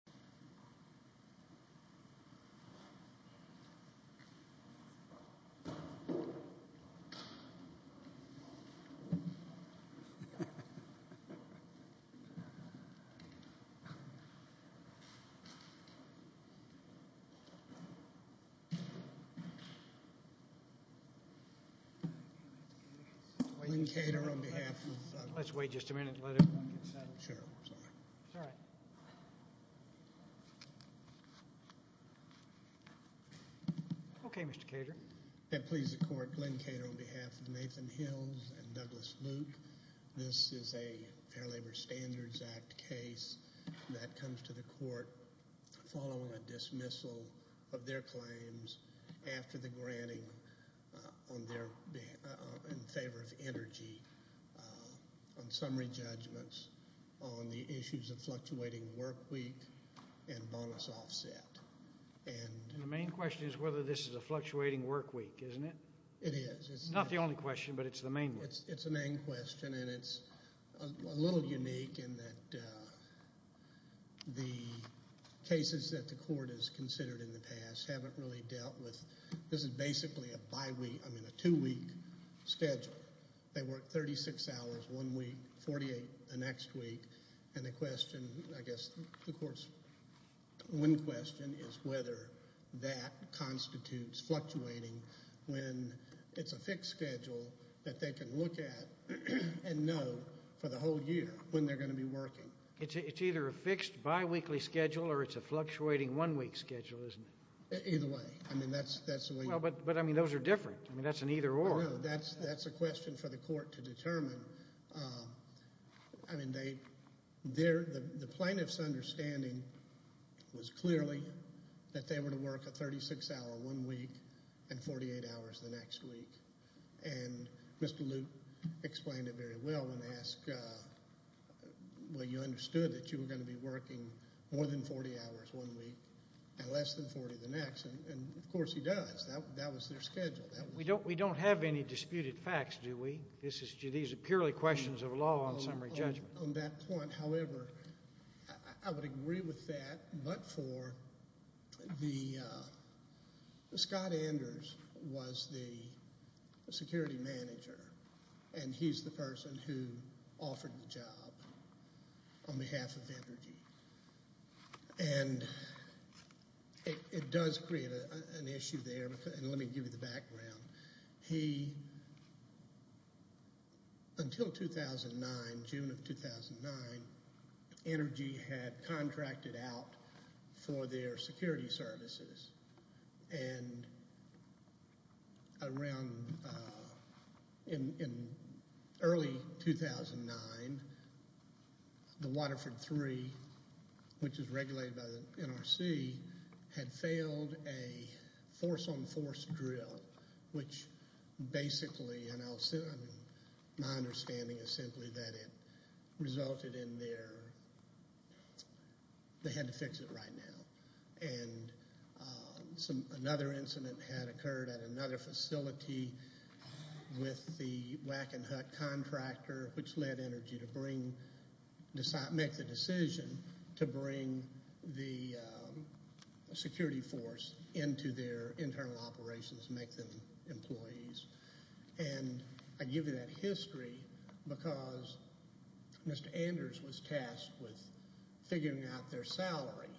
Allen, Jr. v. Entergy Louisiana, L. Allen, Jr. v. Entergy Louisiana, L. Allen, Jr. v. Entergy Louisiana, L. Allen, Jr. v. Entergy Louisiana, L.. Okay. Mr. Cater. We're going to go ahead and start with the questions. about the workweek and bonus offset. The main question is whether this is a fluctuating workweek, isn't it? It is. It's not the only question, but it's the main one. It's a main question, and it's a little unique in that the cases that the court has considered in the past haven't really dealt with. This is basically a two-week schedule. It's a two-week schedule, and it's a fixed schedule, and it's a one-week schedule. One question is whether that constitutes fluctuating when it's a fixed schedule that they can look at and know for the whole year when they're going to be working. It's either a fixed biweekly schedule, or it's a fluctuating one-week schedule, isn't it? Either way. I mean, that's the way you... But, I mean, those are different. I mean, that's an either-or. No, that's a question for the court to determine. I mean, the plaintiff's understanding was clearly that they were to work a 36-hour one-week and 48-hours the next week, and Mr. Luke explained it very well when they asked, well, you understood that you were going to be working more than 40 hours one-week and less than 40 the next, and, of course, he We don't have any... We don't have any disputed facts, do we? These are purely questions of law on summary judgment. On that point, however, I would agree with that, but for the... Scott Anders was the security manager, and he's the person who offered the job on behalf of Energy. And it does create an issue there. And let me give you the background. Energy, until 2009, June of 2009, Energy had contracted out for their security services, and around... In early 2009, the Waterford III, which was regulated by the NRC, had failed a force-on-force drill, which basically My understanding is simply that it resulted in their... They had to fix it right now. And another incident had occurred at another facility with the Wackenhut contractor, which led Energy to make the decision to bring the security force into their internal operations, make them employees. And I give you that history because Mr. Anders was tasked with figuring out their salary,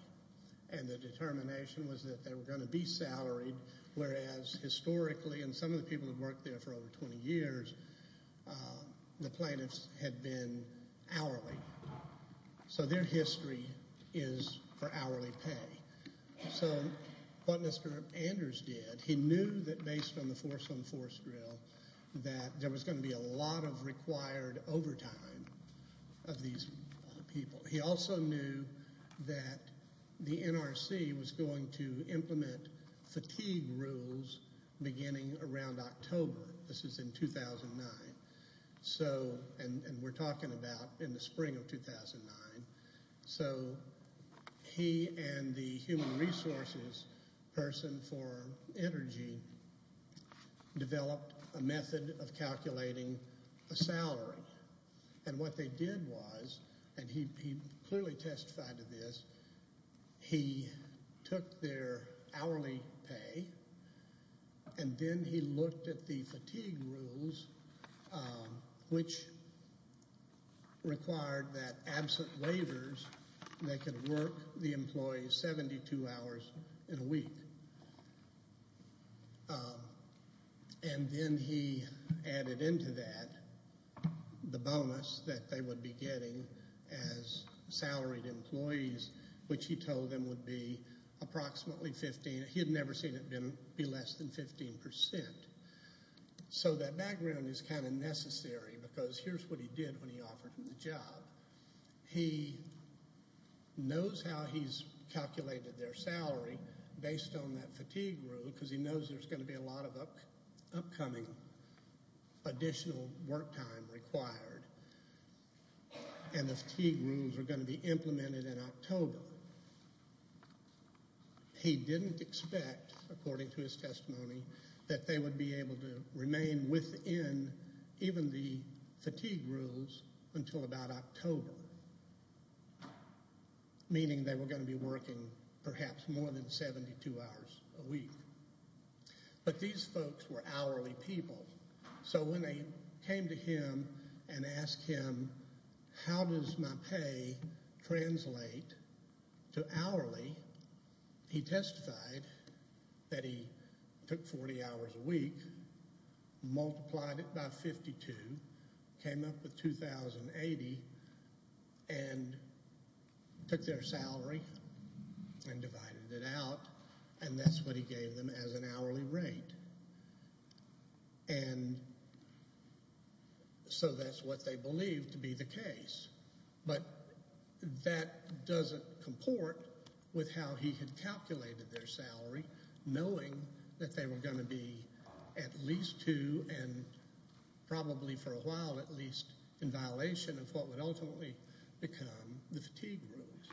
and the determination was that they were going to be salaried, whereas historically, and some of the people who worked there for over 20 years, the plaintiffs had been hourly. So their history is for hourly pay. So what Mr. Anders did, he knew that based on the force-on-force drill, that there was going to be a lot of required overtime of these people. He also knew that the NRC was going to implement fatigue rules beginning around October. This is in 2009. So, and we're talking about in the spring of 2009. So he and the human resources person for Energy developed a method of calculating a salary. And what they did was, and he clearly testified to this, he took their hourly pay, and then he looked at the fatigue rules, which required that absent waivers, they could work the employees 72 hours in a week. And then he added into that the bonus that they would be getting as salaried employees, which he told them would be approximately 15, he had never seen it be less than 15 percent. So that background is kind of necessary, because here's what he did when he offered him the job. He knows how he's calculated their salary based on their hourly pay. He knows how he's calculated their salary based on that fatigue rule, because he knows there's going to be a lot of upcoming additional work time required. And the fatigue rules were going to be implemented in October. He didn't expect, according to his testimony, that they would be able to remain within even the fatigue rules until about October, meaning that they would be able to continue to work the employees 72 hours a week. But these folks were hourly people. So when they came to him and asked him, how does my pay translate to hourly, he testified that he took 40 hours a week, multiplied it by 52, came up with 2,080, and that's what he gave them as an hourly rate. And so that's what they believed to be the case. But that doesn't comport with how he had calculated their salary, knowing that they were going to be at least two and probably for a while at least in violation of what would ultimately become the fatigue rules,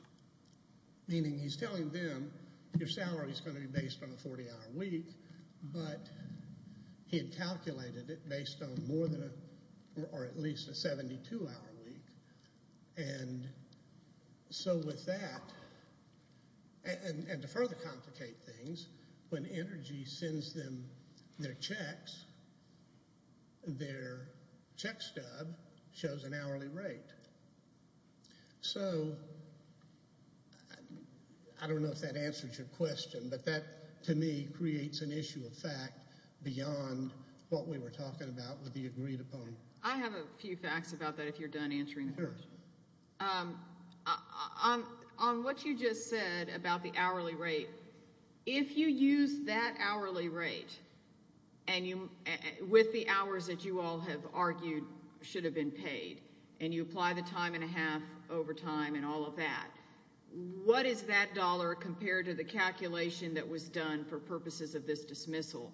meaning he's telling them to work based on a 40-hour week, but he had calculated it based on more than or at least a 72-hour week. And so with that, and to further complicate things, when Energy sends them their checks, their check stub shows an hourly rate. So I don't know if that answers your question, but that to me creates an issue of fact beyond what we were talking about would be agreed upon. I have a few facts about that if you're done answering the question. On what you just said about the hourly rate, if you use that hourly rate with the hours that you all have argued should have been paid, and you apply the time and a half overtime and all of that, what is that dollar compared to the calculation that was done for purposes of this dismissal?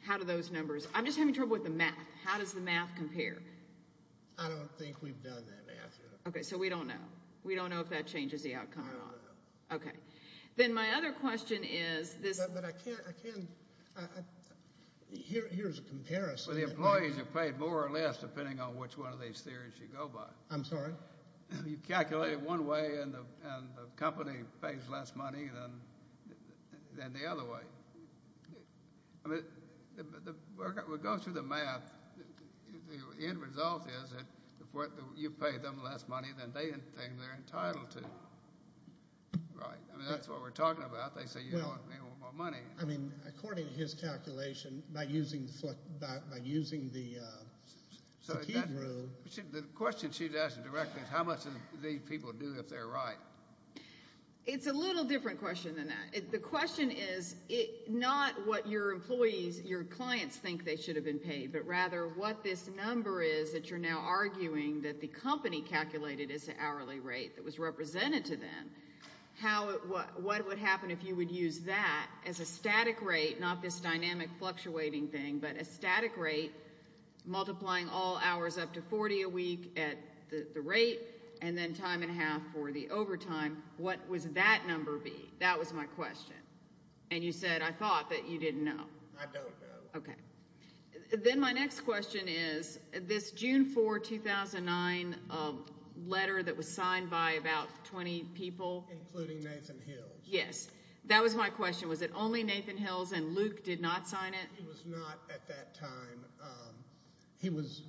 How do those numbers, I'm just having trouble with the math. How does the math compare? I don't think we've done that math yet. Okay, so we don't know. We don't know if that changes the outcome or not. I don't know. Okay. Then my other question is this. But I can't, I can't, here's a comparison. Well, the employees are paid more or less depending on which one of these theories you go by. I'm sorry? You calculate it one way and the company pays less money than the other way. I mean, we're going through the math. The end result is that you pay them less money than they think they're entitled to. Right. I mean, that's what we're talking about. They say you want more money. I mean, according to his calculation, by using the key rule. The question she's asking directly is how much do these people do if they're right? It's a little different question than that. The question is not what your employees, your clients think they should have been paid, but rather what this number is that you're now arguing that the company calculated as an hourly rate that was represented to them. What would happen if you would use that as a static rate, not this dynamic fluctuating thing, but a static rate multiplying all hours up to 40 a week at the rate and then time and half for the overtime. What was that number be? That was my question. And you said, I thought that you didn't know. I don't know. Then my next question is this June 4, 2009 letter that was signed by about 20 people. Including Nathan Hills. Yes, that was my question. Was it only Nathan Hills and Luke did not sign it? He was not at that time. He was.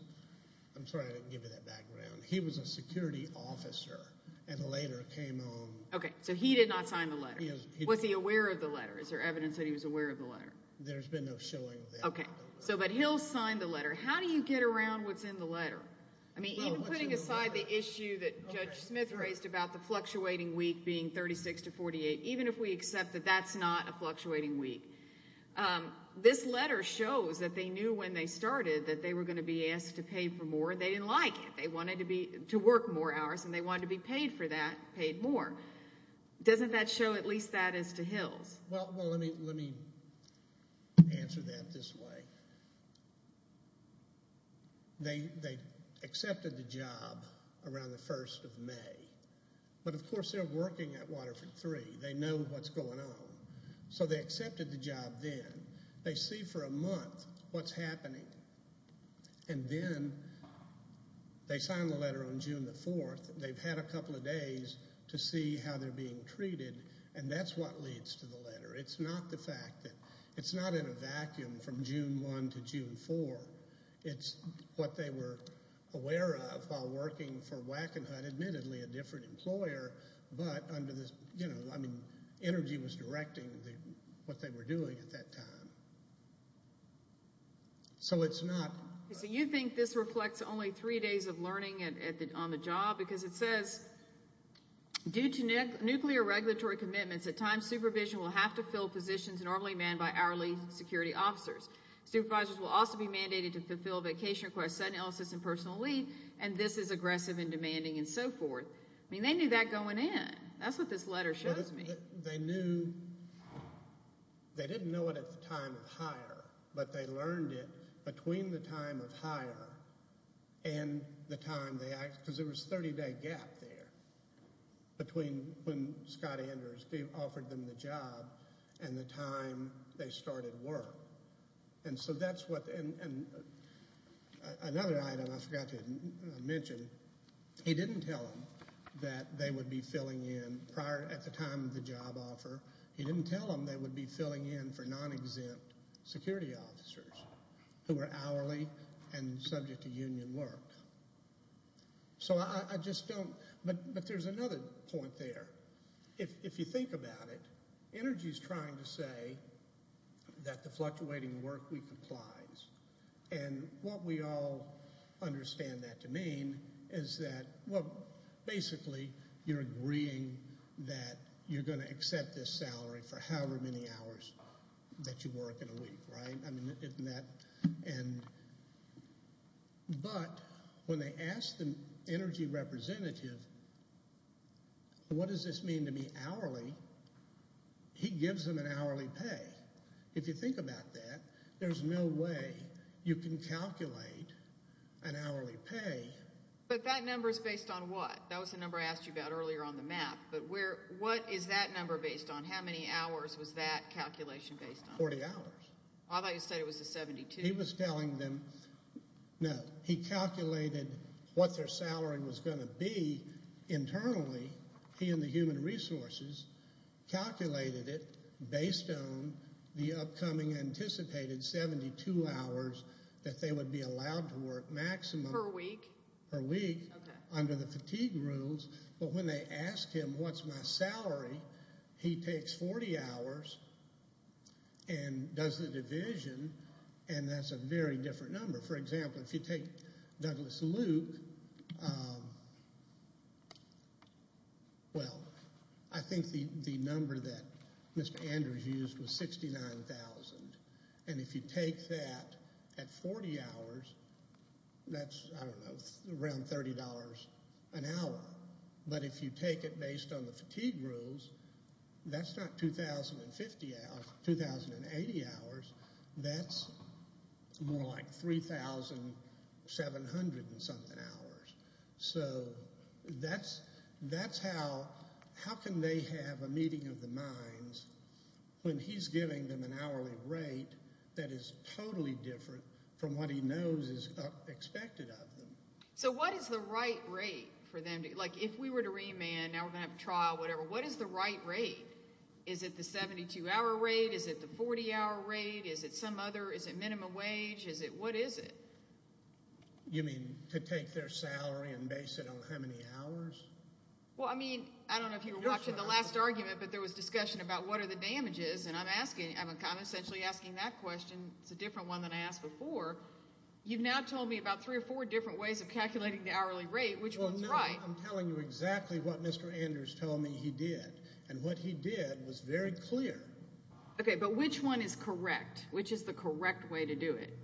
I'm sorry I didn't give you that background. He was a security officer and later came on. Okay. So he did not sign the letter. Was he aware of the letter? Is there evidence that he was aware of the letter? There's been no showing of that. Okay. So, but Hill signed the letter. How do you get around what's in the letter? I mean, even putting aside the issue that Judge Smith raised about the fluctuating week being 36 to 48, even if we accept that that's not a fluctuating week. This letter shows that they knew when they started that they were going to be asked to pay for more. They didn't like it. They wanted to be, to work more hours and they wanted to be paid for that, paid more. Doesn't that show at least that as to Hills? Well, well, let me, let me answer that this way. They, they accepted the job around the 1st of May, but of course they're working at Waterford three. They know what's going on. So they accepted the job. Then they see for a month what's happening. And then they signed the letter on June the 4th. They've had a couple of days to see how they're being treated. And that's what leads to the letter. It's what they were aware of while working for Wackenhut, admittedly a different employer, but under this, you know, I mean, energy was directing what they were doing at that time. So it's not. So you think this reflects only three days of learning at the, on the job because it says due to nuclear regulatory commitments, at times supervision will have to fill positions normally manned by hourly security officers. Supervisors will also be mandated to fulfill vacation requests, sudden illnesses and personal leave. And this is aggressive and demanding and so forth. I mean, they knew that going in. That's what this letter shows me. They knew. They didn't know it at the time of hire, but they learned it between the time of hire and the time they asked because there was 30 day gap there between when Scott Anders offered them the job and the time they started work. And so that's what, and another item I forgot to mention, he didn't tell them that they would be filling in prior at the time of the job offer. He didn't tell them they would be filling in for non-exempt security officers who were hourly and subject to union work. So I just don't. But there's another point there. If you think about it, energy is trying to say that the work week applies. And what we all understand that to mean is that, well, basically you're agreeing that you're going to accept this salary for however many hours that you work in a week, right? I mean, isn't that? And, but when they asked the energy representative, what does this mean to be hourly? He gives them an hourly pay. If you think about that, there's no way you can calculate an hourly pay. But that number is based on what? That was the number I asked you about earlier on the map. But where, what is that number based on? How many hours was that calculation based on? Forty hours. I thought you said it was a 72. He was telling them, no, he calculated what their salary was going to be internally. He and the human resources calculated it based on the upcoming anticipated 72 hours that they would be allowed to work maximum. Per week? Per week. Okay. Under the fatigue rules. But when they asked him, what's my salary? He takes 40 hours and does the division and that's a very different number. For example, if you take Douglas Luke, well, I think the, the average used was 69,000. And if you take that at 40 hours, that's, I don't know, around $30 an hour. But if you take it based on the fatigue rules, that's not 2,050 hours, 2,080 hours, that's more like 3,700 and something hours. So that's, that's how, how can they have a meeting of the human resources when he's giving them an hourly rate that is totally different from what he knows is expected of them? So what is the right rate for them to, like, if we were to remand, now we're going to have a trial, whatever, what is the right rate? Is it the 72 hour rate? Is it the 40 hour rate? Is it some other, is it minimum wage? Is it, what is it? You mean to take their salary and base it on how many hours? Well, I mean, I don't know if you were watching the last couple of images and I'm asking, I'm essentially asking that question. It's a different one than I asked before. You've now told me about three or four different ways of calculating the hourly rate. Which one's right? Well, now I'm telling you exactly what Mr. Anders told me he did. And what he did was very clear. Okay, but which one is correct? Which is the correct way to do it?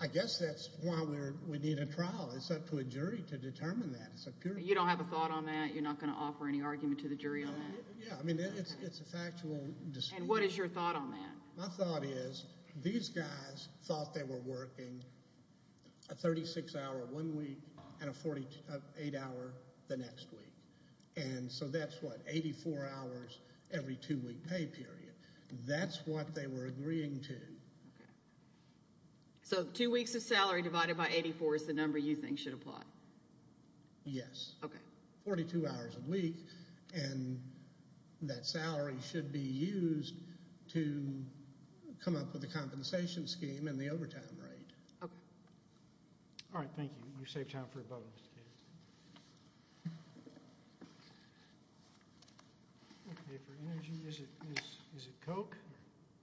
I guess that's why we're, we need a trial. It's up to a jury to determine that. You don't have a thought on that? You're not going to offer any argument to the jury on that? Yeah, I mean, it's a factual decision. And what is your thought on that? My thought is, these guys thought they were working a 36 hour one week and a 48 hour the next week. And so that's what, 84 hours every two week pay period. That's what they were agreeing to. Okay. So two weeks of salary divided by 84 is the number you think should apply? Yes. Okay. Forty-two hours a week. And that salary should be used to come up with a compensation scheme and the overtime rate. Okay. All right. Thank you. You saved time for a bonus. Okay, for energy, is it Coke?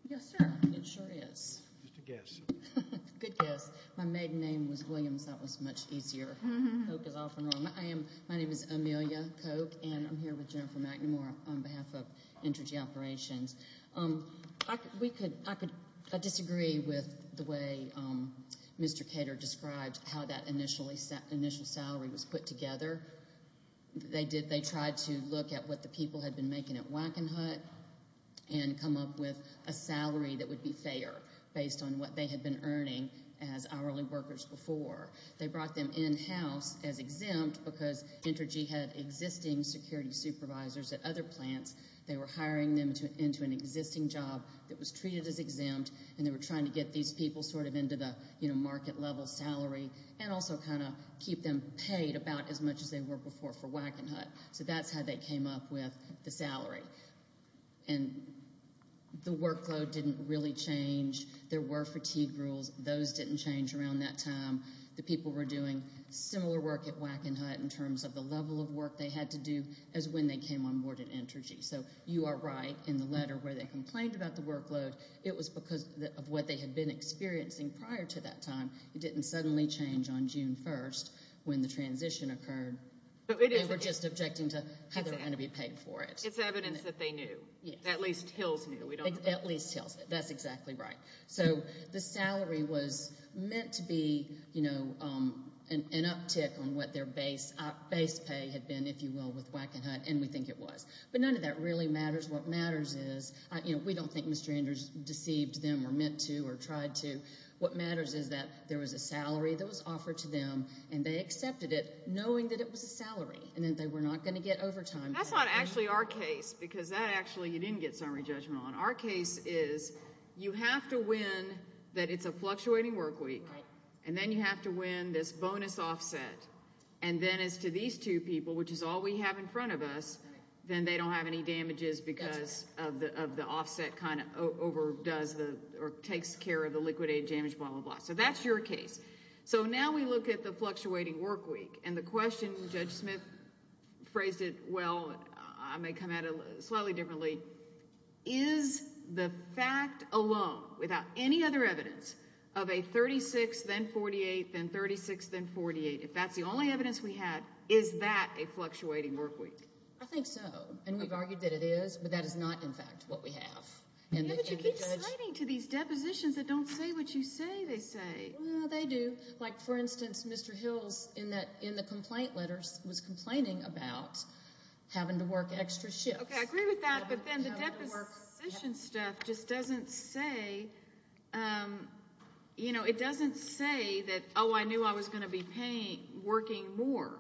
Yes, sir. It sure is. Just a guess. Good guess. My maiden name was Williams. That was much easier. Coke is often wrong. My name is Amelia Coke. I'm here with Jennifer McNamara on behalf of Energy Operations. I disagree with the way Mr. Kater described how that initial salary was put together. They tried to look at what the people had been making at Wackenhut and come up with a salary that would be fair based on what they had been earning as hourly workers before. They brought them in-house as exempt because Entergy had existing security services. They were hiring them into an existing job that was treated as exempt and they were trying to get these people into the market-level salary and also keep them paid about as much as they were before for Wackenhut. So that's how they came up with the salary. The workload didn't really change. There were fatigue rules. Those didn't change around that time. The people were doing similar work at Wackenhut in terms of the level of work they had to do as when they came on board at Entergy. So you are right in the letter where they complained about the workload. It was because of what they had been experiencing prior to that time. It didn't suddenly change on June 1st when the transition occurred. They were just objecting to how they were going to be paid for it. It's evidence that they knew. At least Hills knew. At least Hills knew. That's exactly right. So the salary was meant to be, you know, an uptick on what their base pay had been, if you will, with Wackenhut and we think it was. But none of that really matters. What matters is, you know, we don't think Mr. Andrews deceived them or meant to or tried to. What matters is that there was a salary that was offered to them and they accepted it knowing that it was a salary and that they were not going to get overtime. That's not actually our case because that actually you didn't get summary judgment on. Our case is you have to win that it's a fluctuating work week and then you have to win this bonus offset and then as to these two people, which is all we have in front of us, then they don't have any damages because of the offset kind of overdoes or takes care of the liquidated damage, blah, blah, blah. So that's your case. So now we look at the fluctuating work week and the question Judge Smith phrased it well, I may come at it Is this a fluctuating work week? Is this a fluctuating work week? Is this a fluctuating work week? Is the fact alone without any other evidence of a 36, then 48, then 36, then 48, if that's the only evidence we have, is that a fluctuating work week? I think so. And we've argued that it is, but that is not, in fact, what we have. But you keep citing to these depositions that don't say what you say they say. Well, they do. Like, for instance, Mr. Hills in the complaint letters was complaining about having to work extra shifts. Okay, I agree with that. But then the deposition that he made about having to work extra shifts. The deposition stuff just doesn't say, you know, it doesn't say that, oh, I knew I was going to be paying, working more.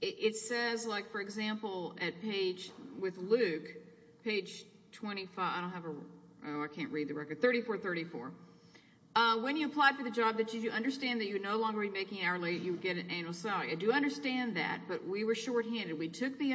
It says, like, for example, at page with Luke, page 25, I don't have a, oh, I can't read the record. 3434. When you apply for the job that you understand that you no longer be making hourly, you get an annual salary. I do understand that. But we were shorthanded. We took the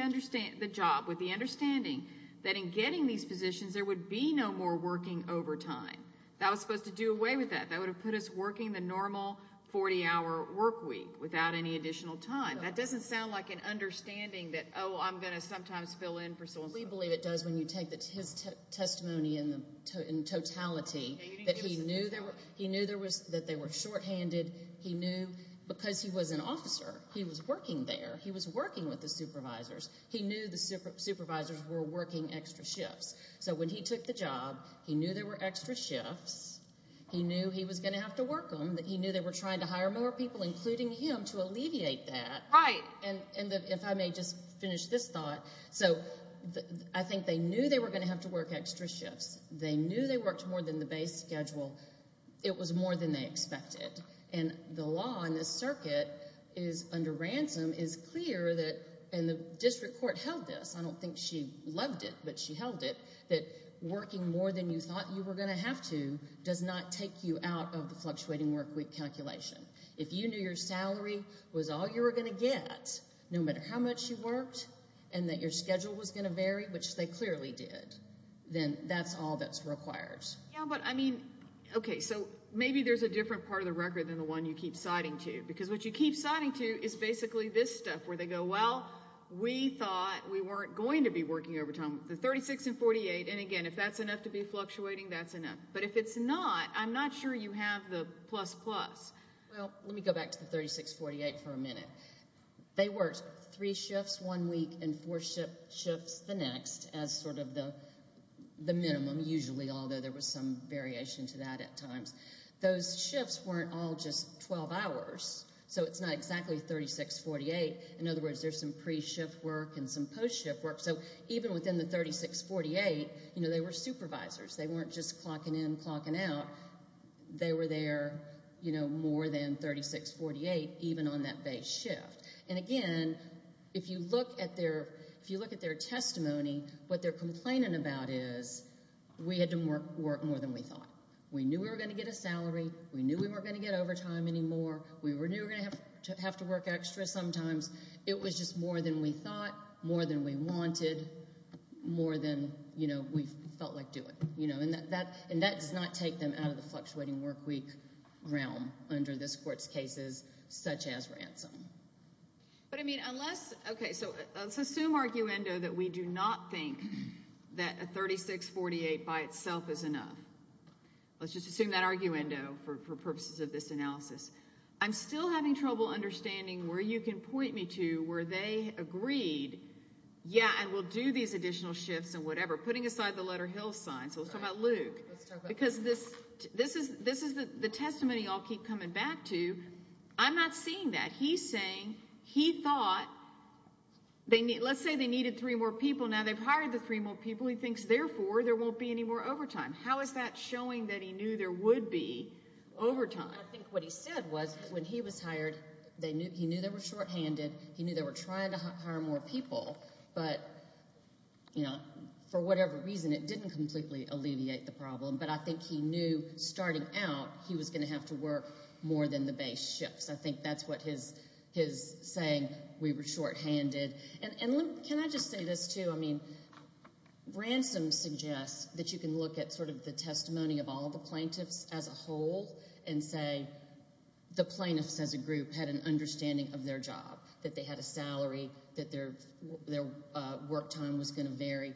job with the understanding that in getting these positions, there would be an annual salary. There would be no more working overtime. That was supposed to do away with that. That would have put us working the normal 40 hour work week without any additional time. That doesn't sound like an understanding that, oh, I'm going to sometimes fill in for someone. We believe it does. When you take his testimony in totality, that he knew there was, that they were shorthanded. He knew because he was an officer, he was working there. He knew the supervisors were working extra shifts. So when he took the job with the understanding that they were shorthanded, he took the job. He knew there were extra shifts. He knew he was going to have to work them. He knew they were trying to hire more people, including him, to alleviate that. Right. And if I may just finish this thought. So I think they knew they were going to have to work extra shifts. They knew they worked more than the base schedule. It was more than they expected. And the law in this circuit is, under ransom, is clear I don't think she loved it, but she held it. That working extra shifts was not an option. That working more than you thought you were going to have to does not take you out of the fluctuating work week calculation. If you knew your salary was all you were going to get, no matter how much you worked, and that your schedule was going to vary, which they clearly did, then that's all that's required. Yeah, but I mean, OK, so maybe there's a different part of the record than the one you keep citing to. Because what you keep citing to is basically this stuff, where they go, well, we thought with the 36 and 48. And again, if that's the case, we're going to say, OK, if that's enough to be fluctuating, that's enough. But if it's not, I'm not sure you have the plus-plus. Well, let me go back to the 36-48 for a minute. They worked three shifts one week and four shifts the next as sort of the minimum, usually, although there was some variation to that at times. Those shifts weren't all just 12 hours. So it's not exactly 36-48. In other words, there's some pre-shift work and some post-shift work. So even within the 36-48, you know, they were supervisors. They weren't just clocking in, clocking out. They were there, you know, more than 36-48, even on that base shift. And again, if you look at their testimony, what they're complaining about is we had to work more than we thought. We knew we were going to get a salary. We knew we weren't going to get overtime anymore. We knew we were going to have to work extra sometimes. It was just more than we thought, more than we wanted, more than, you know, we felt like doing. You know, and that does not take them out of the fluctuating workweek realm under this Court's cases, such as ransom. But I mean, unless, okay, so let's assume, arguendo, that we do not think that a 36-48 by itself is enough. Let's just assume that, arguendo, for purposes of this analysis. I'm still having trouble understanding where you can point me to where they agreed, yeah, and we'll do these additional shifts and whatever. Putting aside the letter Hilton, let's talk about the little signs. Let's talk about Luke. Because this is the testimony I'll keep coming back to. I'm not seeing that. He's saying he thought, let's say they needed three more people. Now they've hired the three more people. He thinks, therefore, there won't be any more overtime. How is that showing that he knew there would be overtime? I think what he said was when he was hired, he knew they were going to completely alleviate the problem, but I think he knew, starting out, he was going to have to work more than the base shifts. I think that's what his saying, we were shorthanded. Can I just say this, too? Ransom suggests that you can look at the testimony of all the plaintiffs as a whole and say the plaintiffs as a group had an understanding of their job, that they had a salary, that their work time was going to vary.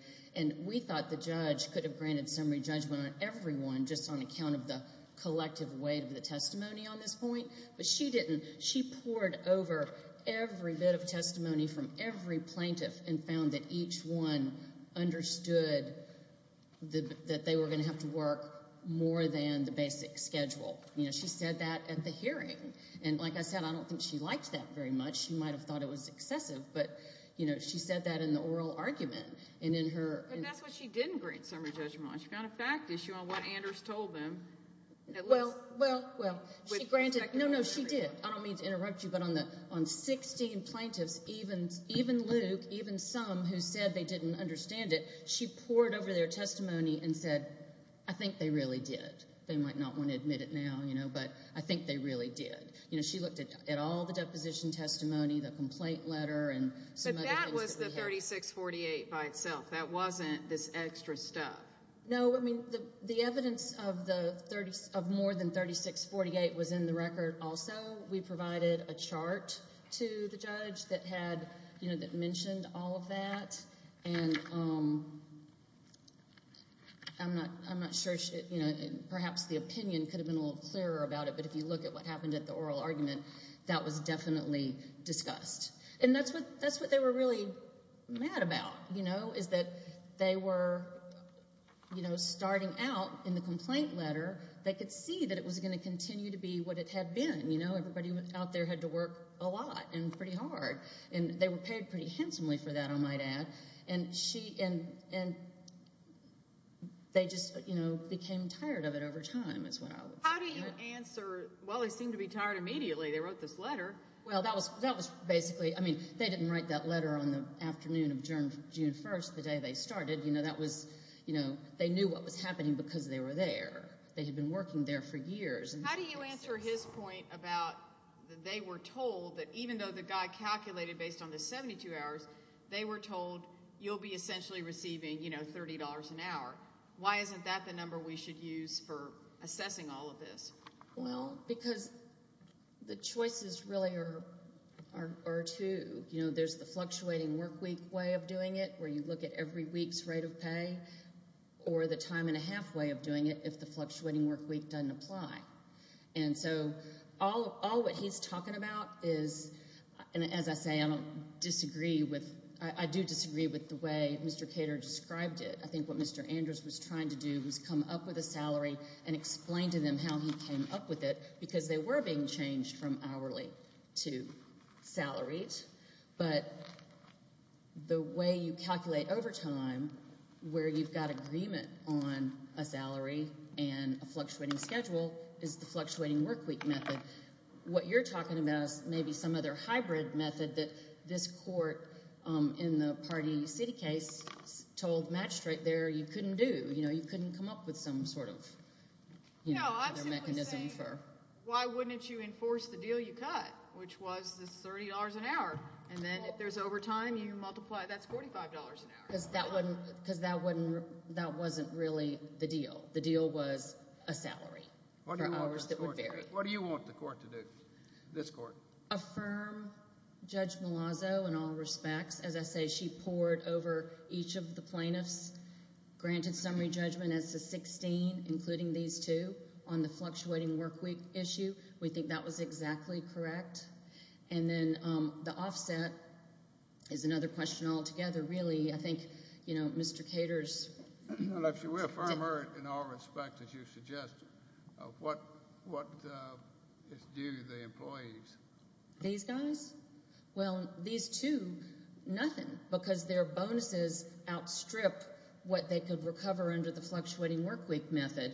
We thought the judge could have granted summary judgment on everyone just on account of the collective weight of the testimony on this point, but she didn't. She poured over every bit of testimony from every plaintiff and found that each one understood that they were going to have to work more than the basic schedule. She said that at the hearing. Like I said, I don't think she liked that very much. She might have thought it was excessive, but she said that in the oral argument. But that's what she didn't grant summary judgment on. She found a fact issue on what Anders told them. No, no, she did. I don't mean to interrupt you, but on 16 plaintiffs, even Luke, even some who said they didn't understand it, she poured over their testimony and said, I think they really did. They might not want to admit it now, but I think they really did. She looked at all the deposition and said, well, that's 3648 by itself. That wasn't this extra stuff. No, I mean, the evidence of more than 3648 was in the record also. We provided a chart to the judge that had, you know, that mentioned all of that. And I'm not sure, you know, perhaps the opinion could have been a little clearer about it, but if you look at what happened at the oral argument, that was definitely discussed. And that's what they were really mad about, you know, is that they were, you know, starting out in the complaint letter. They could see that it was going to continue to be what it had been. You know, everybody out there had to work a lot and pretty hard, and they were paid pretty handsomely for that, I might add. And she, and they just, you know, became tired of it over How do you answer, well, they seem to be tired immediately. They wrote this letter. Well, that was basically, I mean, they didn't write that letter on the afternoon of June 1st, the day they started. You know, that was, you know, they knew what was happening because they were there. They had been working there for years. How do you answer his point about that they were told that even though the guy calculated based on the 72 hours, they were told you'll be essentially receiving, you know, $30 an hour. Why isn't that the number we should use for assessing all of this? Well, because the choices really are two. You know, there's the fluctuating workweek way of doing it where you look at every week's rate of pay or the time and a half way of doing it if the fluctuating workweek doesn't apply. And so all what he's talking about is, and as I say, I don't disagree with, I do disagree with the way Mr. Cater described it. I think what Mr. Andrews was trying to do was come up with a salary and explain to them how he came up with it because they were being changed from hourly to salaried. But the way you calculate overtime where you've got agreement on a salary and a fluctuating schedule is the fluctuating workweek method. What you're talking about is maybe some other hybrid method that this court in the party city case told Matt Strait there you couldn't do. You know, you couldn't come up with some sort of mechanism for. No, I'm simply saying why wouldn't you enforce the deal you cut, which was the $30 an hour, and then if there's overtime you multiply, that's $45 an hour. Because that wasn't really the deal. The deal was a salary for hours that would vary. What do you want the court to do, this court? Affirm Judge Malazzo in all respects, I think the court over each of the plaintiffs granted summary judgment as to 16, including these two, on the fluctuating workweek issue. We think that was exactly And then the offset is another question altogether, really. I think, you know, Mr. Caters. Well, if you affirm her in all respect as you suggest, what do the employees? These guys? Well, these two, nothing. Because their bonuses outstrip what they could recover under the fluctuating workweek method.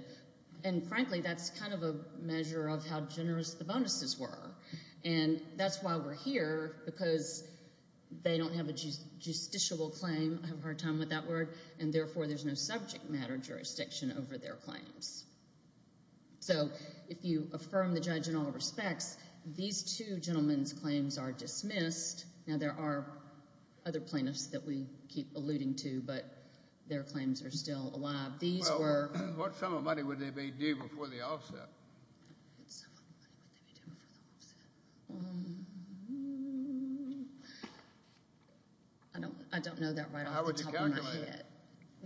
And frankly, that's kind of a measure of how generous the bonuses were. And that's why we're here, because they don't have a justiciable claim, I have a hard time with that word, and therefore there's no subject matter jurisdiction over their claims. So if you affirm the judge in all respects, these two gentlemen's claims are still alive. These were Well, what sum of money would they be due before the offset? What sum of money would they be due before the offset? I don't know that right off the top of my head. How would you calculate it?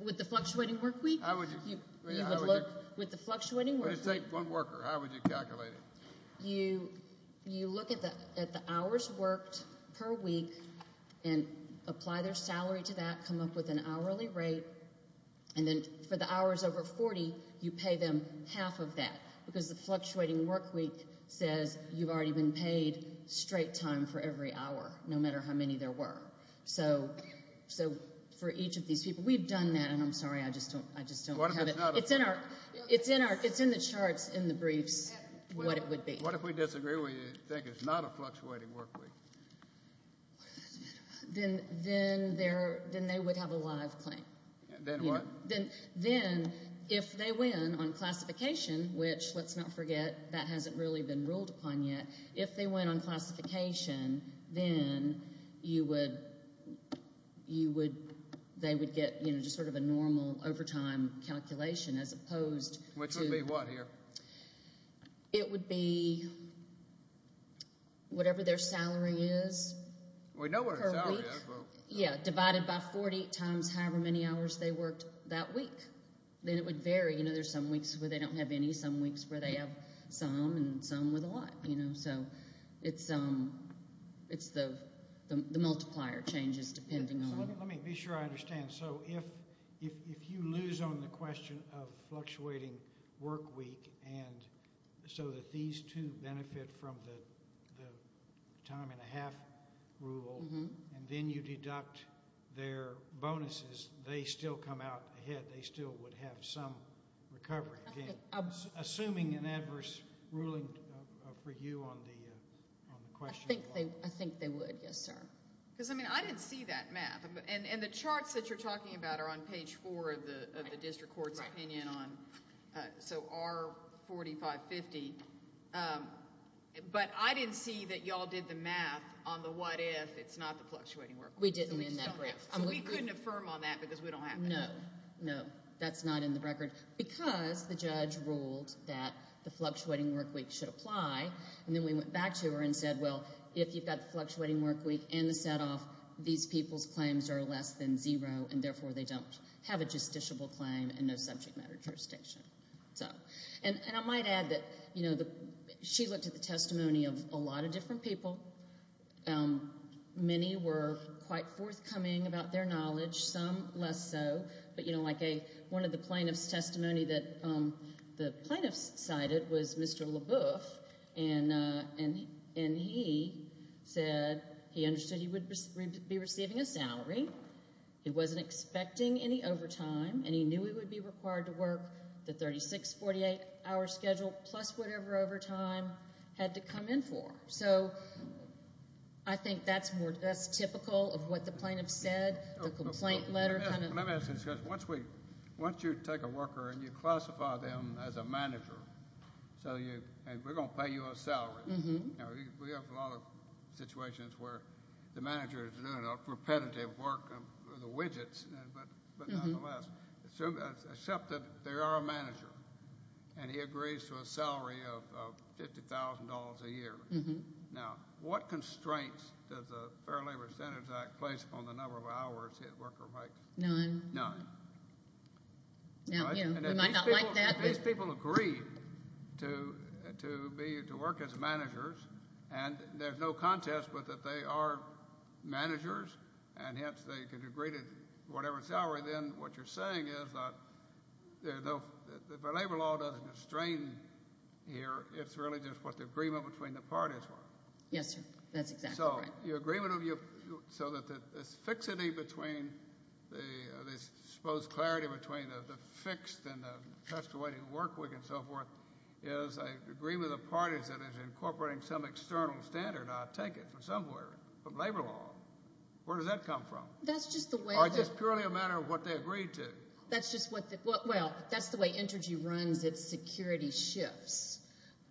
With the fluctuating workweek? With the fluctuating workweek? Well, just take one worker. How would you calculate it? You look at the hours worked per week and apply that to their salary, come up with an hourly rate, and then for the hours over 40, you pay them half of that, because the fluctuating workweek says you've already been paid straight time for every hour, no matter how many there were. So for each of these people, we've done that, and I'm sorry, I just don't have it. It's in the charts in the briefs what it would be. What if we disagree, we think it's not a fluctuating workweek? Then they would have a live claim. Then what? Then if they win on classification, which let's not forget that hasn't really been ruled upon yet, if they win on classification, then they would get just sort of a normal to... Which would be what here? It would be whatever their salary is, whatever their salary is per week, divided by 40 times however many hours they worked that week. Then it would vary. There's some weeks where they don't have any, some weeks where they have some, and some with a lot. So it's the multiplier changes depending on... Let me be sure I understand. So if you lose on the question of fluctuating workweek, and so that these two benefit from the time and a half, then what time and a half rule, and then you deduct their bonuses, they still come out ahead. They still would have some recovery. Assuming an adverse ruling for you on the question. I think they would, yes, sir. Because I didn't see that math. And the charts that you're talking about are on page four of the district court's opinion on, so R4550. But I didn't see that y'all did the math on the what if, it's not the fluctuating workweek. We didn't in that brief. So we couldn't affirm on that because we don't have it. No, no, that's not in the record, because the judge ruled that the fluctuating workweek should apply, and then we went back to her and said, well, if you've got the fluctuating workweek and the setoff, these people's claims are less than zero, and therefore they don't have a justiciable claim and no subject matter jurisdiction. So, and I might add that, you know, she looked at the testimony of a lot of different people. Many were quite forthcoming about their knowledge, some less so, but, you know, like one of the plaintiffs' testimony that the plaintiffs cited was Mr. LaBeouf, and he said he understood he would be receiving a salary, he wasn't expecting any overtime, and he knew he would be required to work the 36, 48-hour schedule, plus whatever overtime had to come in for. So I think that's more, that's typical of what the plaintiffs said, the complaint letter kind of. Let me ask you a question. Once we, once you take a worker and you classify them as a manager, so you, and we're going to pay you a salary. Mm-hmm. You know, we have a lot of situations where the manager is doing a repetitive work of the widgets, but nonetheless, except that they are a manager, and he agrees to a salary of $50,000 a year. Mm-hmm. Now, what constraints does the Fair Labor Standards Act place on the number of hours that worker makes? None. None. Now, you know, we might not like that, but. If these people agree to be, to work as managers, and there's no contest, but that they are managers, and hence they could agree to whatever salary, then what you're saying is that if a labor law doesn't constrain here, it's really just what the agreement between the parties were. Yes, sir. That's exactly right. So, your agreement of your, so that this fixity between the, this supposed clarity between the fixed and the pestilating work week and so forth is an agreement of parties that is incorporating some external standard. Now, take it from somewhere, from labor law. Where does that come from? That's just the way. Or is it purely a matter of what they agreed to? That's just what the, well, that's the way Intergy runs its security shifts.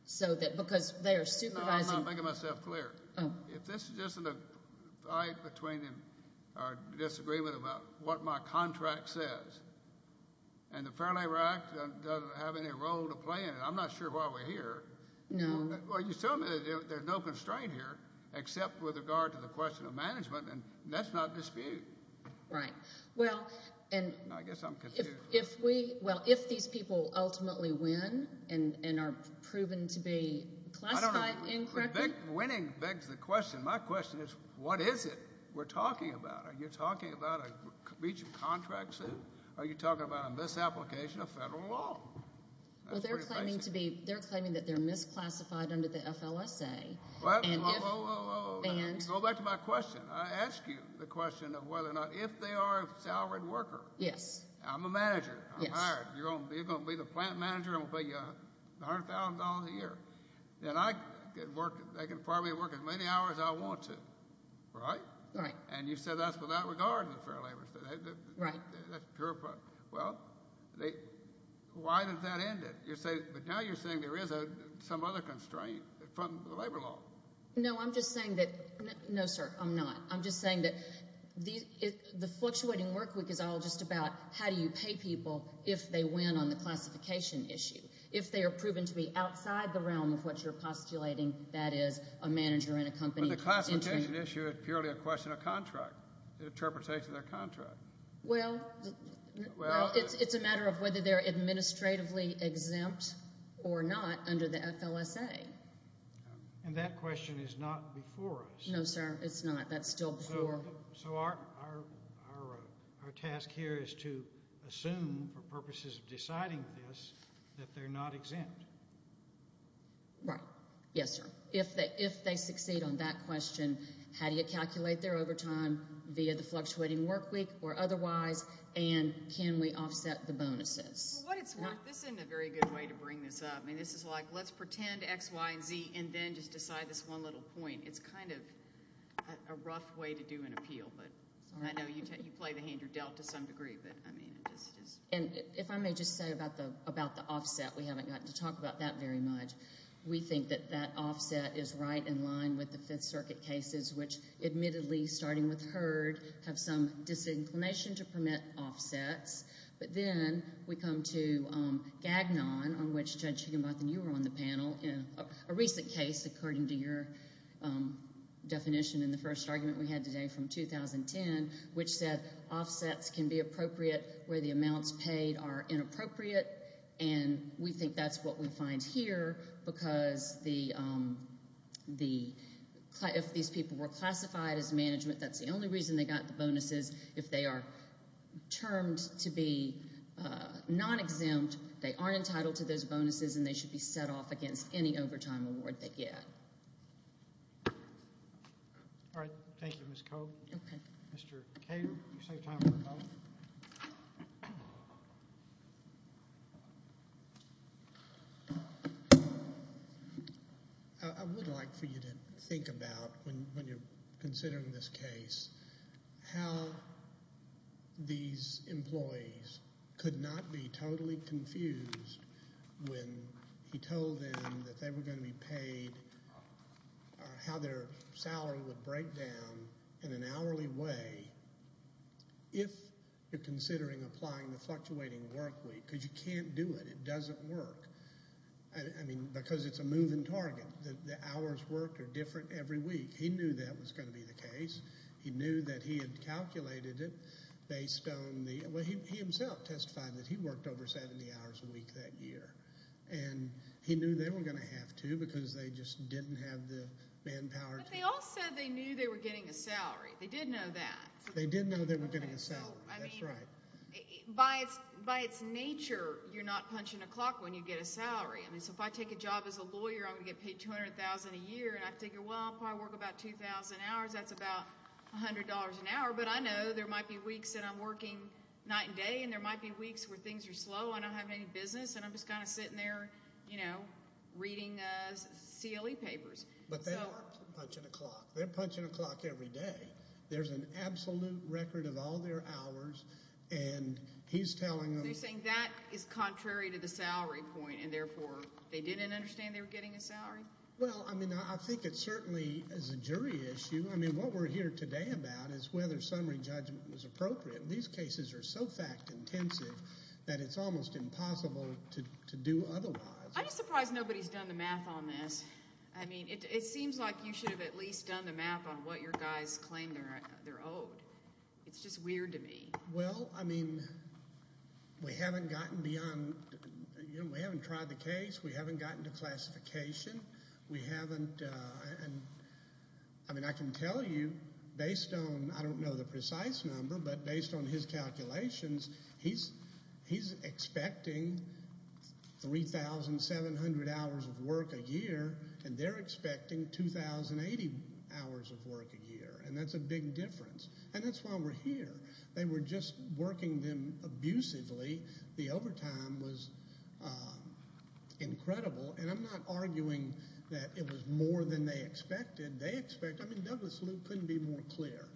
So that, because they are supervising. I'm making myself clear. Oh. If this isn't a fight between them, or a disagreement about what my contract says, and the Fair Labor Act doesn't have any role to play in it, I'm not sure why we're here. No. Well, you're telling me that there's no constraint here, except with regard to the question of management, and that's not dispute. Right. Well, and. No, I guess I'm confused. If we, well, if these people ultimately win, and are proven to be classified incorrectly. I don't know. Winning begs the question. My question is, what is it we're talking about? Are you talking about a breach of contract suit? Are you talking about a misapplication of federal law? That's pretty basic. Well, they're claiming to be, they're claiming that they're misclassified under the FLSA, and if. Whoa, whoa, whoa. Go back to my question. I asked you the question of whether or not, if they are a salaried worker. Yes. I'm a manager. Yes. I'm hired. You're going to be the plant manager. I'm going to pay you $100,000 a year. Then I can work, I can probably work as many hours I want to. Right? Right. And you said that's without regard to the fair labor state. Right. That's pure. Well, they, why does that end it? You're saying, but now you're saying there is some other constraint from the labor law. No, I'm just saying that. No, sir. I'm not. I'm just saying that the fluctuating work week is all just about how do you pay people if they win on the classification issue. If they are proven to be outside the realm of what you're postulating, that is, a manager in a company. But the classification issue is purely a question of contract. The interpretation of their contract. Well, it's a matter of whether It's not before us. It's not before us. It's not before us. It's not before us. It's not before us. It's not before us. It's not before us. It's not. That's still before. So our, our, our, our task here is to assume, for purposes of deciding this, that they're not exempt. Right. Yes, sir. If they, if they succeed on that question, how do you calculate their overtime via the fluctuating work week or otherwise? And can we offset the bonuses? Well, what it's worth, this isn't a very good way to bring this up. It's kind of, it's a little bit of a weird way to say it. It's a little bit of a weird way to say it. It's a little bit of a weird way to say it. It's a rough way to do an appeal, but I know you, you play the hand you're dealt to some degree, but I mean, it's, it's. And if I may just say about the, about the offset, we haven't gotten to talk about that very much. We think that that offset is right in line with the Fifth Circuit cases, which admittedly, starting with Heard, have some disinclination to permit offsets. But then we come to Gagnon, according to your definition in the first round, which is that, you know, there's, there's, there's some, there's some disinclination to permit offsets. And then there's the latest argument we had today from 2010, which said offsets can be appropriate where the amounts paid are inappropriate. And we think that's what we find here because the, the, if these people were classified as management, that's the only reason they got the bonuses. If they are termed to be they get. All right. Thank you. Thank you. Thank you. Thank you. Thank you. Thank you. Thank you. Thank you. Thank you. Thank you. Okay. Mr. Kater, you save time for both. I would like for you to think about when you're considering this case, how these employees could not be totally confused when he told them that they were going to be paid or how their salary would break down in an hourly way if you're considering applying the fluctuating work week. Because you can't do it. It doesn't work. I mean, because it's a moving target. The hours worked are different every week. He knew that was going to be the case. He knew that he had calculated it based on the way he himself testified that he worked over 70 hours a week that year. And he knew they were going to have to because they just didn't have the manpower. But they all said they knew they were getting a salary. They did know that. They did know they were getting a salary. That's right. By its nature, you're not punching a clock when you get a salary. So if I take a job as a lawyer, I'm going to get paid $200,000 a year. And I figure, well, I'll probably work about 2,000 hours. That's about $100 an hour. But I know there might be weeks that I'm working night and day. And there might be weeks where things are slow. I don't have any business. And I'm just kind of sitting there, you know, reading CLE papers. But they're not punching a clock. They're punching a clock every day. There's an absolute record of all their hours. And he's telling them... They're saying that is contrary to the salary point. And therefore, they didn't understand they were getting a salary? Well, I mean, I think it certainly is a jury issue. I mean, what we're here today about is whether summary judgment was appropriate. These cases are so fact intensive that it's almost impossible to do otherwise. the math on whether somebody's getting a salary or not. I mean, I don't know. I don't know. I don't know. I don't know. I don't know. I mean, ever. I don't know. It's not necessarily true. But I do know what your guys claim they're owed. It's just weird to me. Well, I mean, we haven't gotten beyond... We haven't tried the case. We haven't gotten to classification. We haven't... I mean, I can tell you based on... I don't know the precise number, but based on his calculations, he's expecting 3700 hours of work a year. And they're expecting 2080 hours of work a year. And that's a big difference. And that's why we're here. They were just working them abusively. The overtime was incredible. And I'm not arguing that it was more than they expected. They expected... I mean, Douglas Luke couldn't be more clear.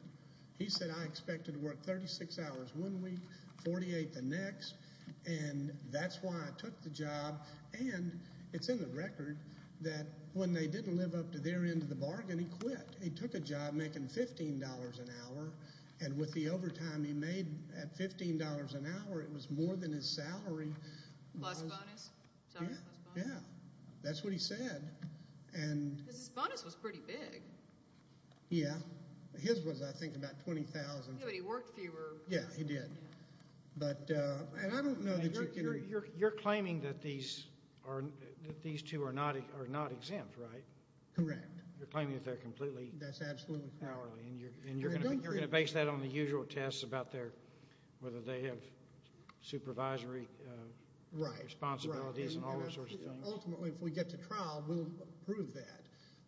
He said, I expected to work 36 hours one week, 48 the next. the job. And it's in the record that when they didn't live up to their end of the bargain, he quit. He took a job and he quit. He quit. He quit. He took a job making $15 an hour, and with the overtime he made at $15 an hour, it was more than his salary. Plus bonus. Sorry? Plus bonus. Yeah. That's what he said. Because his bonus was pretty big. Yeah. His was, I think, about $20,000. Yeah, but he worked fewer. Yeah, he did. And I don't know that you can... You're claiming that these two are not exempt, right? Correct. You're claiming that they're completely... That's absolutely correct. And you're going to base that on the usual tests about whether they have supervisory responsibilities and all those sorts of things. Ultimately, if we get to trial, we'll prove that.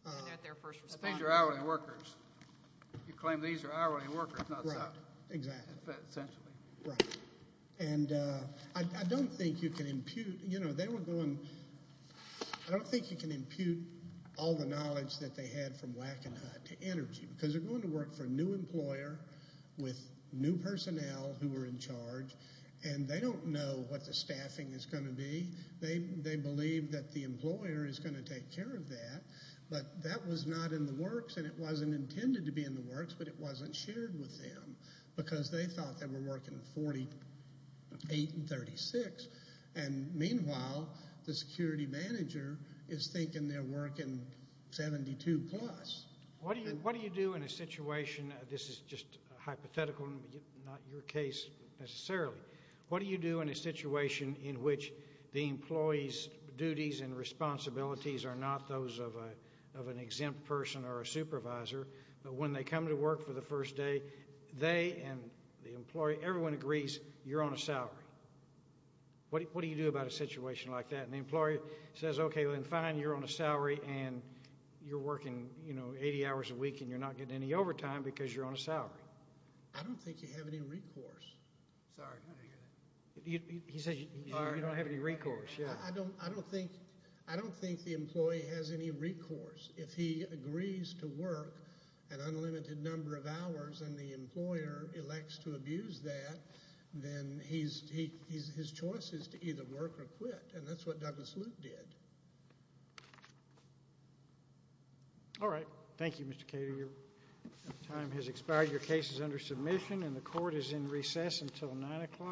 And that they're first responders. These are hourly workers. You claim these are hourly workers, not sub. Right. Exactly. Essentially. Right. And I don't think you can impute... You know, they were going... I don't think you can impute all the knowledge that they had from Wackenhut to the staff. role, and they're going to be a lot of energy. Because they're going to work for a new employer, with new personnel who are in charge, and they don't know what the staffing is going to be. They believe that the employer is going to take care of that. But that was not in the works, and it wasn't in the plan. The employer said, did it. And we did it. And we did it. And we did it. And we did it. And we did it. And we did it. did it. And we did it. And we did it. We announced it, yes. And it was very good. Elected it. by our constituents. And it was very good. And we did it. Thank you. Thank you. We did